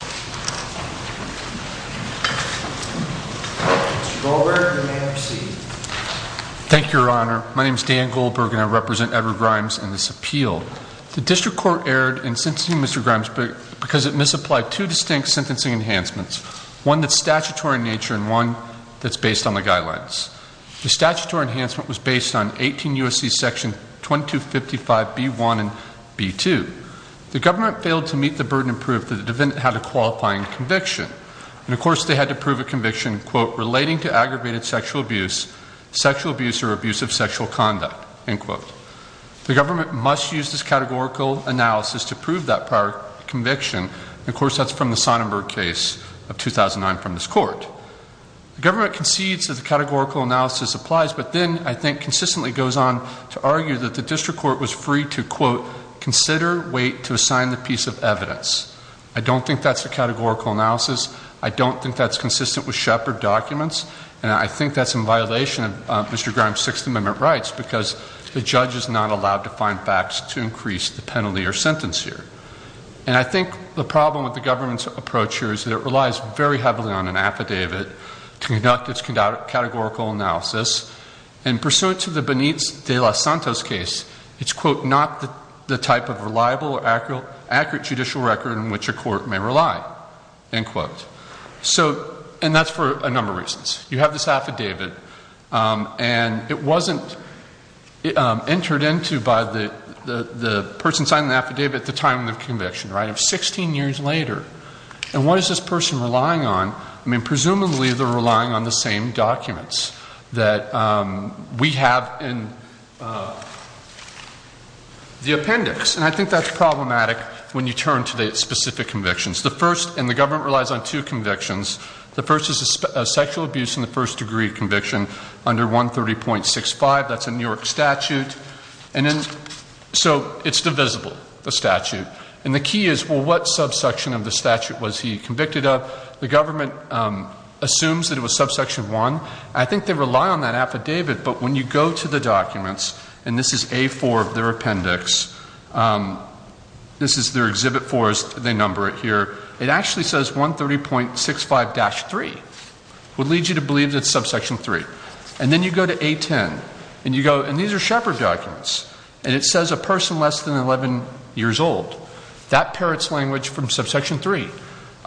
The District Court erred in sentencing Mr. Grimes because it misapplied two distinct sentencing enhancements, one that's statutory in nature and one that's based on the guidelines. The statutory enhancement was based on 18 U.S.C. sections 2255b1 and b2. The government failed to meet the burden of proof that the defendant had a qualifying conviction. And of course, they had to prove a conviction, quote, relating to aggravated sexual abuse, sexual abuse or abuse of sexual conduct, end quote. The government must use this categorical analysis to prove that prior conviction. And of course, that's from the Sonnenberg case of 2009 from this court. The government concedes that the categorical analysis applies, but then I think consistently goes on to argue that the District Court was free to, quote, consider, wait to assign the piece of evidence. I don't think that's the categorical analysis. I don't think that's consistent with Shepard documents. And I think that's in violation of Mr. Grimes' Sixth Amendment rights because the judge is not allowed to find facts to increase the penalty or sentence here. And I think the problem with the government's approach here is that it relies very heavily on an affidavit to conduct its categorical analysis. And pursuant to the Benitez de los Santos case, it's, quote, not the type of reliable or accurate judicial record in which a court may rely, end quote. So, and that's for a number of reasons. You have this affidavit and it wasn't entered into by the person signing the affidavit at the time of the conviction, right? It was 16 years later. And what is this person relying on? I mean, presumably they're relying on the same documents that we have in the appendix. And I think that's problematic when you turn to the specific convictions. The first, and the government relies on two convictions. The first is a sexual abuse in the first degree conviction under 130.65. That's a New York statute. And then, so it's divisible, the statute. And the key is, well, what subsection of the statute was he convicted of? The government assumes that it was subsection 1. I think they rely on that affidavit. But when you go to the documents, and this is A4 of their appendix, this is their exhibit 4 as they number it here, it actually says 130.65-3, which leads you to believe that it's subsection 3. And then you go to A10, and you go, and these are Shepard documents. And it says a person less than 11 years old. That parrots language from subsection 3.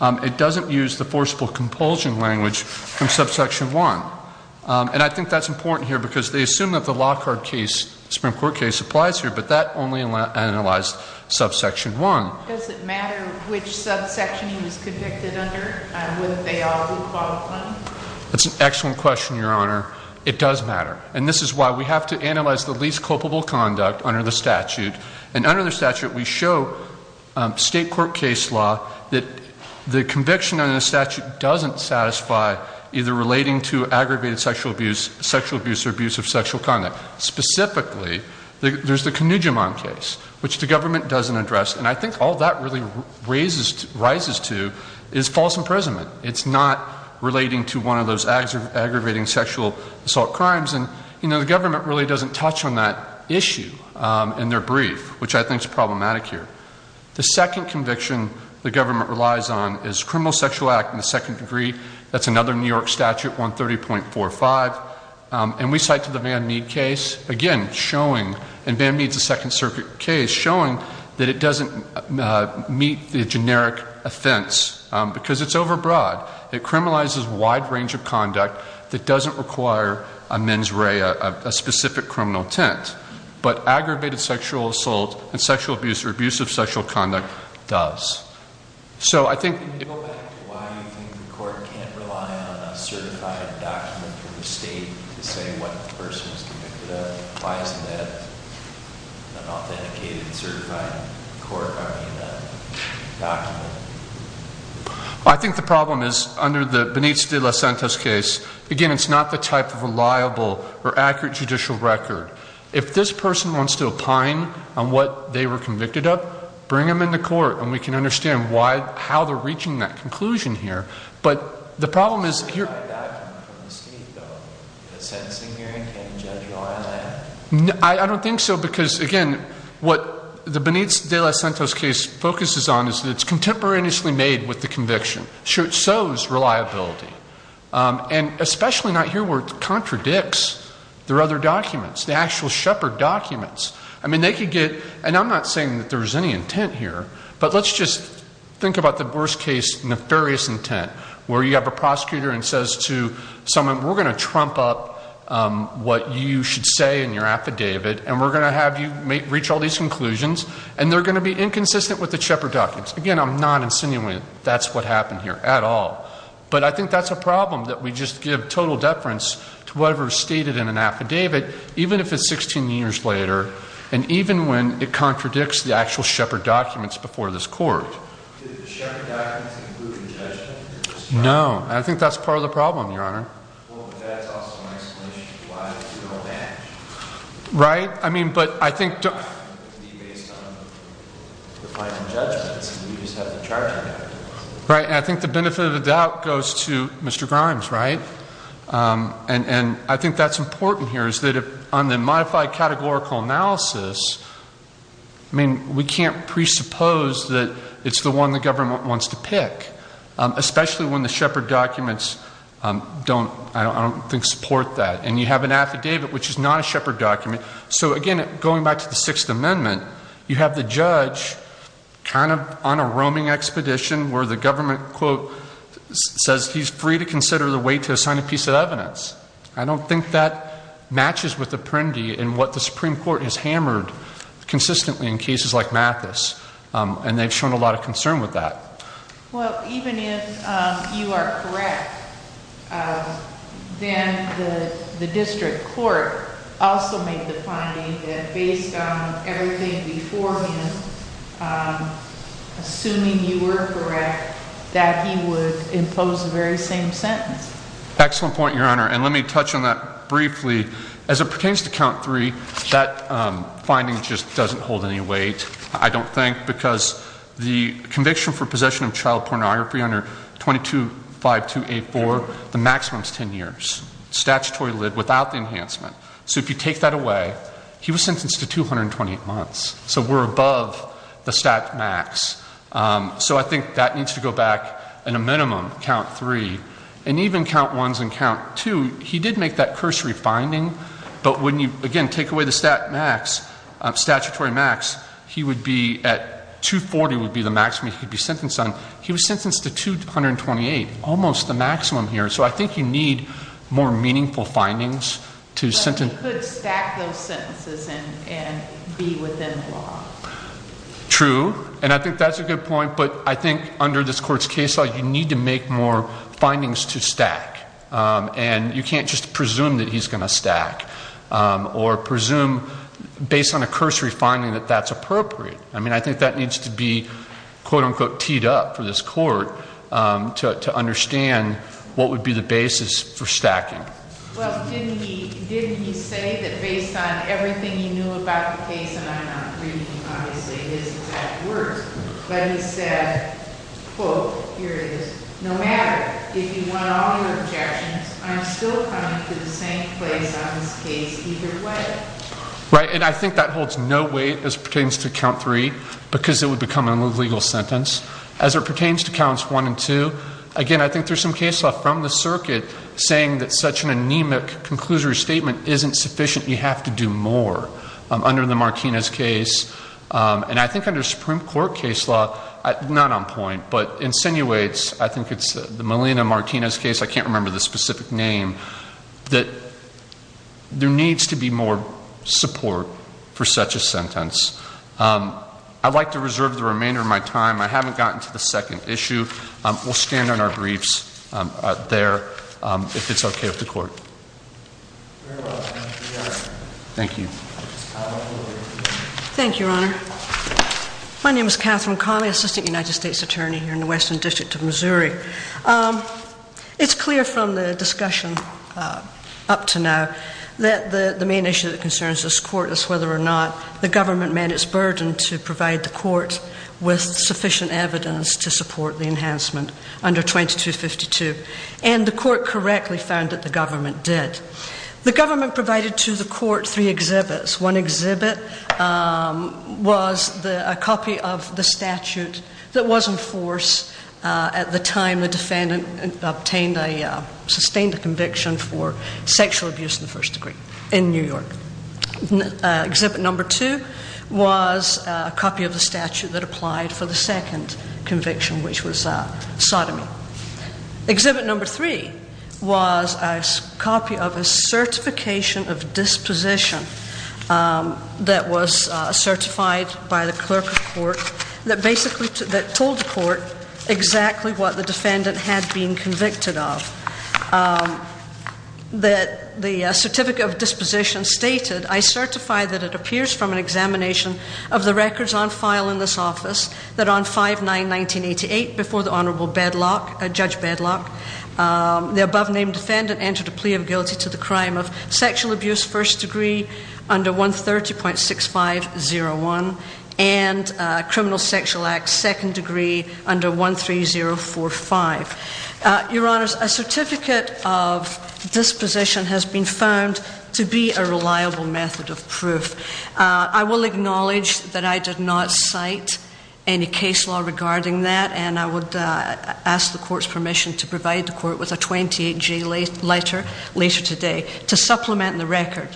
It doesn't use the forcible compulsion language from subsection 1. And I think that's important here because they assume that the Lockhart case, Supreme Court case applies here, but that only analyzed subsection 1. Does it matter which subsection he was convicted under? Would they all be qualified? That's an excellent question, Your Honor. It does matter. And this is why we have to analyze the least culpable conduct under the statute. And under the statute, we show state court case law that the conviction under the statute doesn't satisfy either relating to aggravated sexual abuse, sexual abuse or abuse of sexual conduct. Specifically, there's the Knudgeman case, which the government doesn't address. And I think all that really rises to is false imprisonment. It's not relating to one of those aggravating sexual assault crimes. And the government really doesn't touch on that issue in their brief, which I think is problematic here. The second conviction the government relies on is Criminal Sexual Act in the Second Degree. That's another New York statute, 130.45. And we cite to the Van Mead case, again, showing – and Van Mead's a Second Circuit case – showing that it doesn't meet the generic offense, because it's overbroad. It criminalizes wide range of conduct that doesn't require a mens rea, a specific criminal intent. But aggravated sexual assault and sexual abuse or abuse of sexual conduct does. So I think... Can you go back to why you think the court can't rely on a certified document from the state to say what person is convicted of? Why isn't that an authenticated, certified court, I mean, document? I think the problem is, under the Benitez de Los Santos case, again, it's not the type of reliable or accurate judicial record. If this person wants to opine on what they were convicted of, bring them in the court and we can understand why, how they're reaching that conclusion here. But the problem is... If it's a certified document from the state, though, the sentencing hearing can't judge rely on that? I don't think so, because, again, what the Benitez de Los Santos case focuses on is that it's contemporaneously made with the conviction. So it shows reliability. And especially not here, where it contradicts their other documents, the actual Shepard documents. I mean, they could get... And I'm not saying that there's any intent here, but let's just think about the worst case nefarious intent, where you have a prosecutor and says to someone, we're going to trump up what you should say in your affidavit, and we're going to have you reach all these conclusions, and they're going to be inconsistent with the Shepard documents. Again, I'm not insinuating that's what happened here at all. But I think that's a problem, that we just give total deference to whatever's stated in an affidavit, even if it's 16 years later, and even when it contradicts the actual Shepard documents before this Court. Did the Shepard documents include the judgment? No. And I think that's part of the problem, Your Honor. Well, that's also an explanation for why it's criminal damage. Right. I mean, but I think... It could be based on the final judgments, and we just have to charge it. Right. And I think the benefit of the doubt goes to Mr. Grimes, right? And I think that's without categorical analysis, I mean, we can't presuppose that it's the one the government wants to pick, especially when the Shepard documents don't, I don't think, support that. And you have an affidavit which is not a Shepard document. So, again, going back to the Sixth Amendment, you have the judge kind of on a roaming expedition where the government, quote, says he's free to consider the way to assign a piece of evidence. I don't think that matches with Apprendi and what the Supreme Court has hammered consistently in cases like Mathis. And they've shown a lot of concern with that. Well, even if you are correct, then the district court also made the finding that based on everything before him, assuming you were correct, that he would impose the very same sentence. Excellent point, Your Honor. And let me touch on that briefly. As it pertains to count three, that finding just doesn't hold any weight, I don't think, because the conviction for possession of child pornography under 22-5284, the maximum is 10 years. Statutory lid without the enhancement. So if you take that away, he was sentenced to 228 months. So we're above the stat max. So I think that needs to go back in a minimum count three. And even count ones and count two, he did make that cursory finding. But when you, again, take away the stat max, statutory max, he would be at 240 would be the maximum he would be sentenced on. He was sentenced to 228, almost the maximum here. So I think you need more meaningful findings to sentence... But he could stack those sentences and be within the law. True. And I think that's a good point. But I think under this Court's case law, you need to make more findings to stack. And you can't just presume that he's going to stack or presume based on a cursory finding that that's appropriate. I mean, I think that needs to be, quote unquote, teed up for this Court to understand what would be the basis for stacking. Well, didn't he say that based on everything he knew about the case, and I'm not reading, obviously, his exact words, but he said, quote, here it is, no matter if you want all your objections, I'm still coming to the same place on this case either way. Right. And I think that holds no weight as it pertains to count three because it would become an illegal sentence. As it pertains to counts one and two, again, I think there's some case law from the circuit saying that such an anemic conclusory statement isn't sufficient. You have to do more. Under the Martinez case, and I think under Supreme Court case law, not on point, but insinuates, I think it's the Malina-Martinez case, I can't remember the specific name, that there needs to be more support for such a sentence. I'd like to reserve the remainder of my time. I haven't gotten to the second Thank you. Thank you, Your Honor. My name is Catherine Conley, Assistant United States Attorney here in the Western District of Missouri. It's clear from the discussion up to now that the main issue that concerns this court is whether or not the government met its burden to provide the court with sufficient evidence to support the enhancement under 2252. And the court correctly found that the government did. The government provided to the court three exhibits. One exhibit was a copy of the statute that was in force at the time the defendant obtained a, sustained a conviction for sexual abuse in the first degree in New York. Exhibit number two was a copy of the statute that applied for the second degree was a copy of a certification of disposition that was certified by the clerk of court that basically, that told the court exactly what the defendant had been convicted of. That the certificate of disposition stated, I certify that it appears from an examination of the records on file in this The above named defendant entered a plea of guilty to the crime of sexual abuse first degree under 130.6501 and criminal sexual acts second degree under 13045. Your Honor, a certificate of disposition has been found to be a reliable method of proof. I will acknowledge that I did not cite any case law regarding that and I would ask the court's permission to provide the court with a 28G letter later today to supplement the record,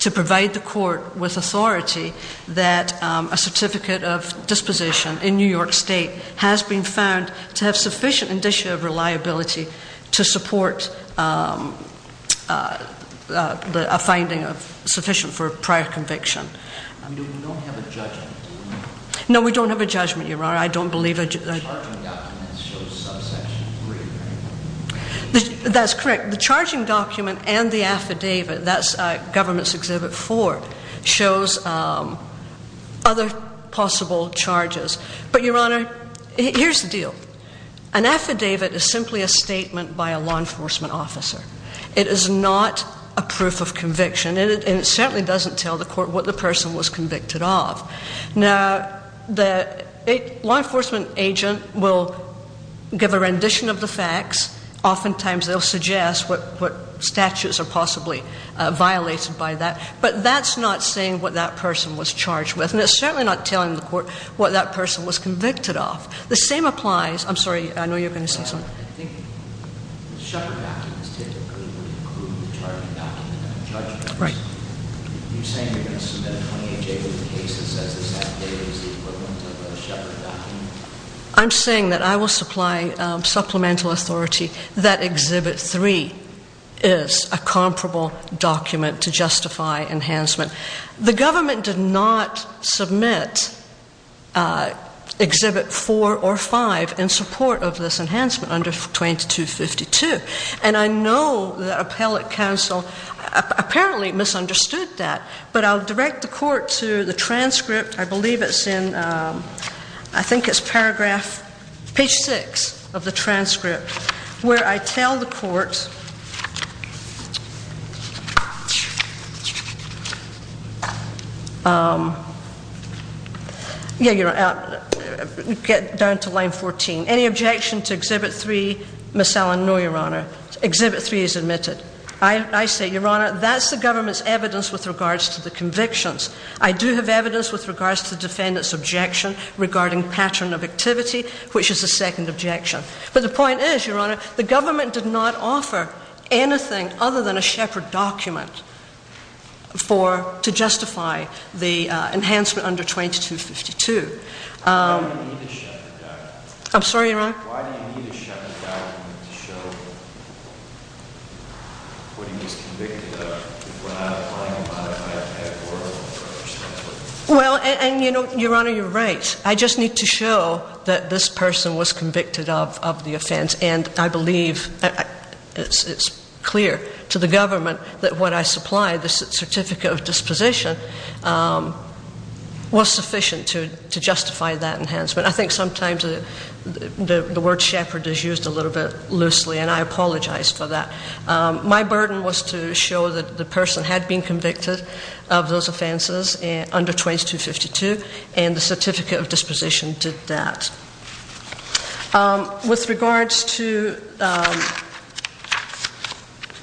to provide the court with authority that a certificate of disposition in New York State has been found to have sufficient indicia of reliability to support a finding of sufficient for a prior conviction. We don't have a judgment. No, we don't have a judgment, Your Honor. I don't believe The charging document shows subsection three. That's correct. The charging document and the affidavit, that's government's exhibit four, shows other possible charges. But Your Honor, here's the deal. An affidavit is simply a statement by a law enforcement officer. It is not a proof of conviction and it certainly doesn't tell the court what the person was convicted of. Now, the law enforcement agent will give a rendition of the facts. Oftentimes they'll suggest what statutes are possibly violated by that. But that's not saying what that person was charged with. And it's certainly not telling the court what that person was convicted of. The same applies. I'm sorry, I know you're going to say something. I think the Sheppard document would include the charging document. Right. You're saying you're going to submit a 28G with a case that says this affidavit is equivalent to a Sheppard document? I'm saying that I will supply supplemental authority that exhibit three is a comparable document to justify enhancement. The government did not submit exhibit four or five in support of this enhancement under 2252. And I know the appellate counsel apparently misunderstood that. But I'll direct the court to the transcript. I believe it's in I think it's paragraph, page six of the transcript, where I tell the court get down to line 14. Any objection to exhibit three, Ms. Allen, no, Your Honor. Exhibit three is admitted. I say, Your Honor, that's the government's evidence with regards to the convictions. I do have evidence with regards to the defendant's objection regarding pattern of activity, which is a second objection. But the point is, Your Honor, the government did not offer anything other than a Sheppard document for, to justify the enhancement under 2252. I'm sorry, Your Honor. Well, and Your Honor, you're right. I just need to show that this person was convicted of the offense. And I believe it's clear to the government that what I supplied, the Certificate of Disposition, was sufficient to justify that enhancement. I think sometimes the word Sheppard is used a little bit loosely, and I apologize for that. My burden was to show that the person had been convicted of those offenses under 2252, and the Certificate of Disposition did that. With regards to,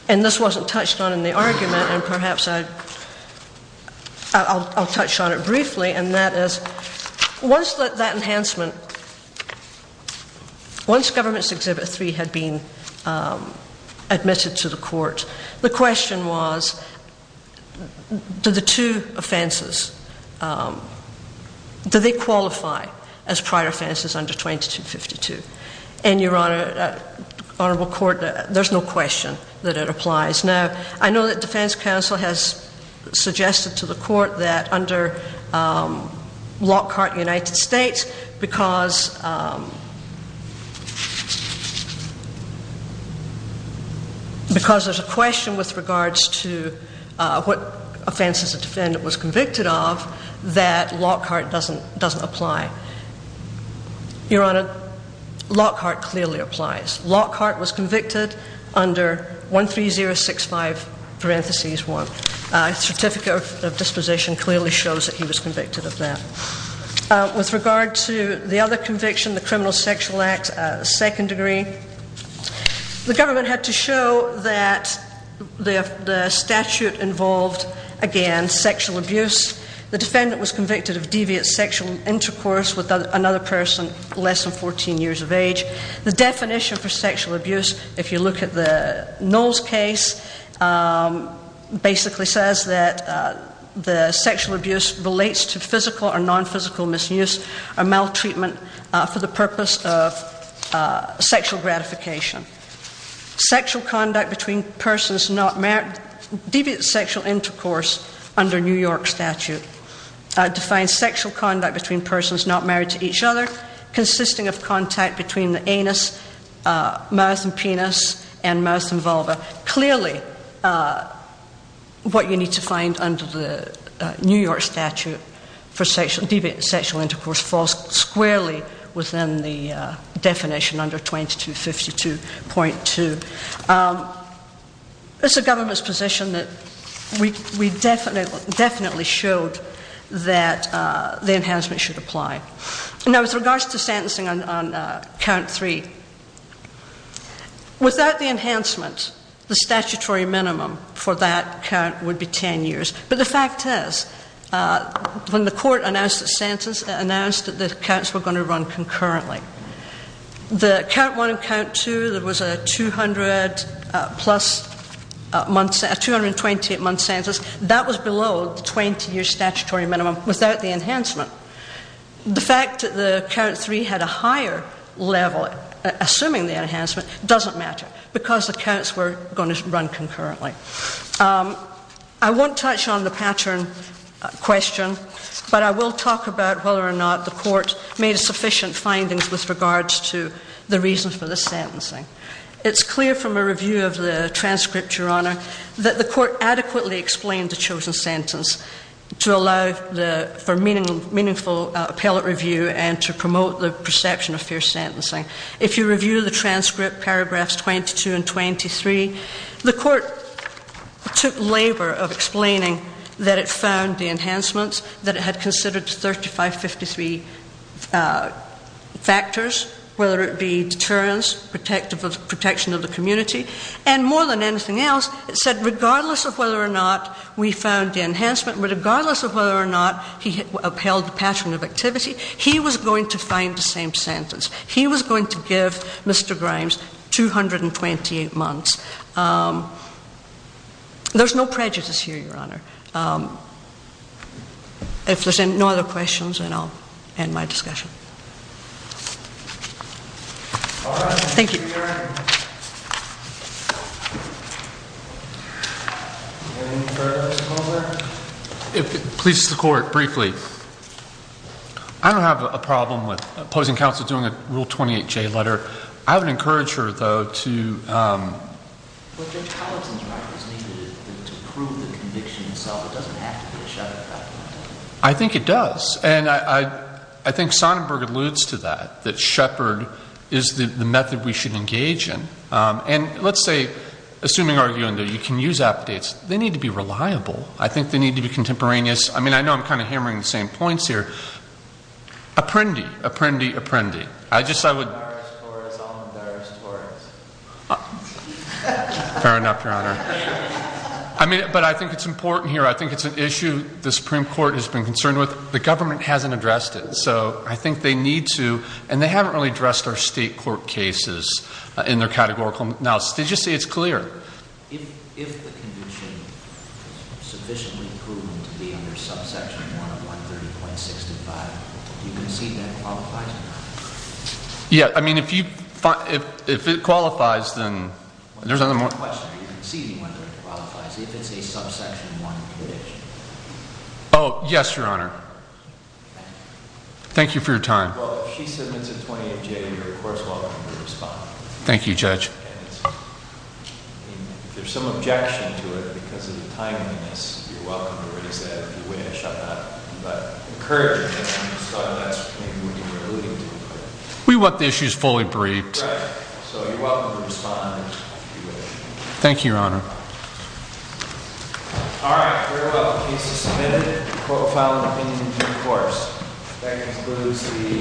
and this wasn't touched on in the argument, and perhaps I'll touch on it briefly, and that is, once that enhancement, once government's Exhibit three had been admitted to the court, the question was, do the two offenses, do they qualify as prior offenses under 2252? And Your Honor, Honorable Court, there's no question that it applies. Now, I know that defense counsel has suggested to the court that under Lockhart United States, because because there's a question with regards to what offenses a defendant was convicted of, that Lockhart doesn't apply. Your Honor, Lockhart clearly applies. Lockhart was convicted under 13065 parenthesis one. The Certificate of Disposition clearly shows that he was convicted of that. With regard to the other conviction, the Criminal Sexual Act, second degree, the government had to show that the statute involved, again, sexual abuse. The defendant was convicted of deviant sexual intercourse with another person less than 14 years of age. The definition for sexual abuse, if you look at the Knowles case, basically says that the sexual abuse relates to physical or non-physical misuse or maltreatment for the purpose of sexual gratification. Sexual conduct between persons not married, deviant sexual intercourse under New York statute defines sexual conduct between persons not married to each other consisting of what you need to find under the New York statute for deviant sexual intercourse falls squarely within the definition under 2252.2. It's the government's position that we definitely showed that the enhancement should apply. Now with regards to sentencing on count three, without the enhancement, the statutory minimum for that count would be 10 years. But the fact is, when the court announced the sentence, it announced that the counts were going to run concurrently. The count one and count two, there was a 200-plus month, a 228-month sentence. That was below the 20-year statutory minimum without the enhancement. The fact that the count three had a higher level, assuming the enhancement, doesn't matter because the counts were going to run concurrently. I won't touch on the pattern question, but I will talk about whether or not the court made sufficient findings with regards to the reasons for the sentencing. It's clear from a review of the transcript, Your Honor, that the court adequately explained the chosen sentence to allow for meaningful appellate review and to promote the perception of fair sentencing. If you review the transcript, paragraphs 22 and 23, the court took labor of explaining that it found the enhancements, that it had considered 3553 factors, whether it be deterrence, protection of the community, and more than anything else, it said regardless of whether or not we found the enhancement, regardless of whether or not he upheld the pattern of activity, he was going to find the same sentence. He was going to give Mr. Grimes 228 months. There's no prejudice here, Your Honor. If there's no other questions, then I'll end my discussion. Thank you. If it pleases the court, briefly, I don't have a problem with that. I think it does. And I think Sonnenberg alludes to that, that Shepard is the method we should engage in. And let's say, assuming arguing that you can use affidavits, they need to be reliable. I think they need to be contemporaneous. I mean, I know I'm kind of hammering the same points here. Apprendi. Apprendi. Apprendi. Fair enough, Your Honor. I mean, but I think it's important here. I think it's an issue the Supreme Court has been concerned with. The government hasn't addressed it. So I think they need to. And they haven't really addressed our state court cases in their categorical analysis. Did you say it's clear? If the conviction is sufficiently proven to be under subsection 1 of 130.65, do you concede that it qualifies? Yeah. I mean, if you if it qualifies, then there's nothing more. I have a question. Are you conceding whether it qualifies if it's a subsection 1 condition? Oh, yes, Your Honor. Thank you for your time. Well, if she submits a 28-J, you're of course welcome to respond. Thank you, Judge. If there's some objection to it because of the timeliness, you're welcome to raise that if you wish. I'm not encouraging it. I just thought that's maybe what you were alluding to. We want the issues fully briefed. So you're welcome to respond if you wish. Thank you, Your Honor. All right. Very well. The case is submitted. The court will file an opinion in due course. That concludes the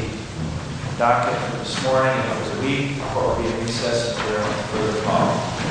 docket for this morning and for the week. The court will be at recess until further comment.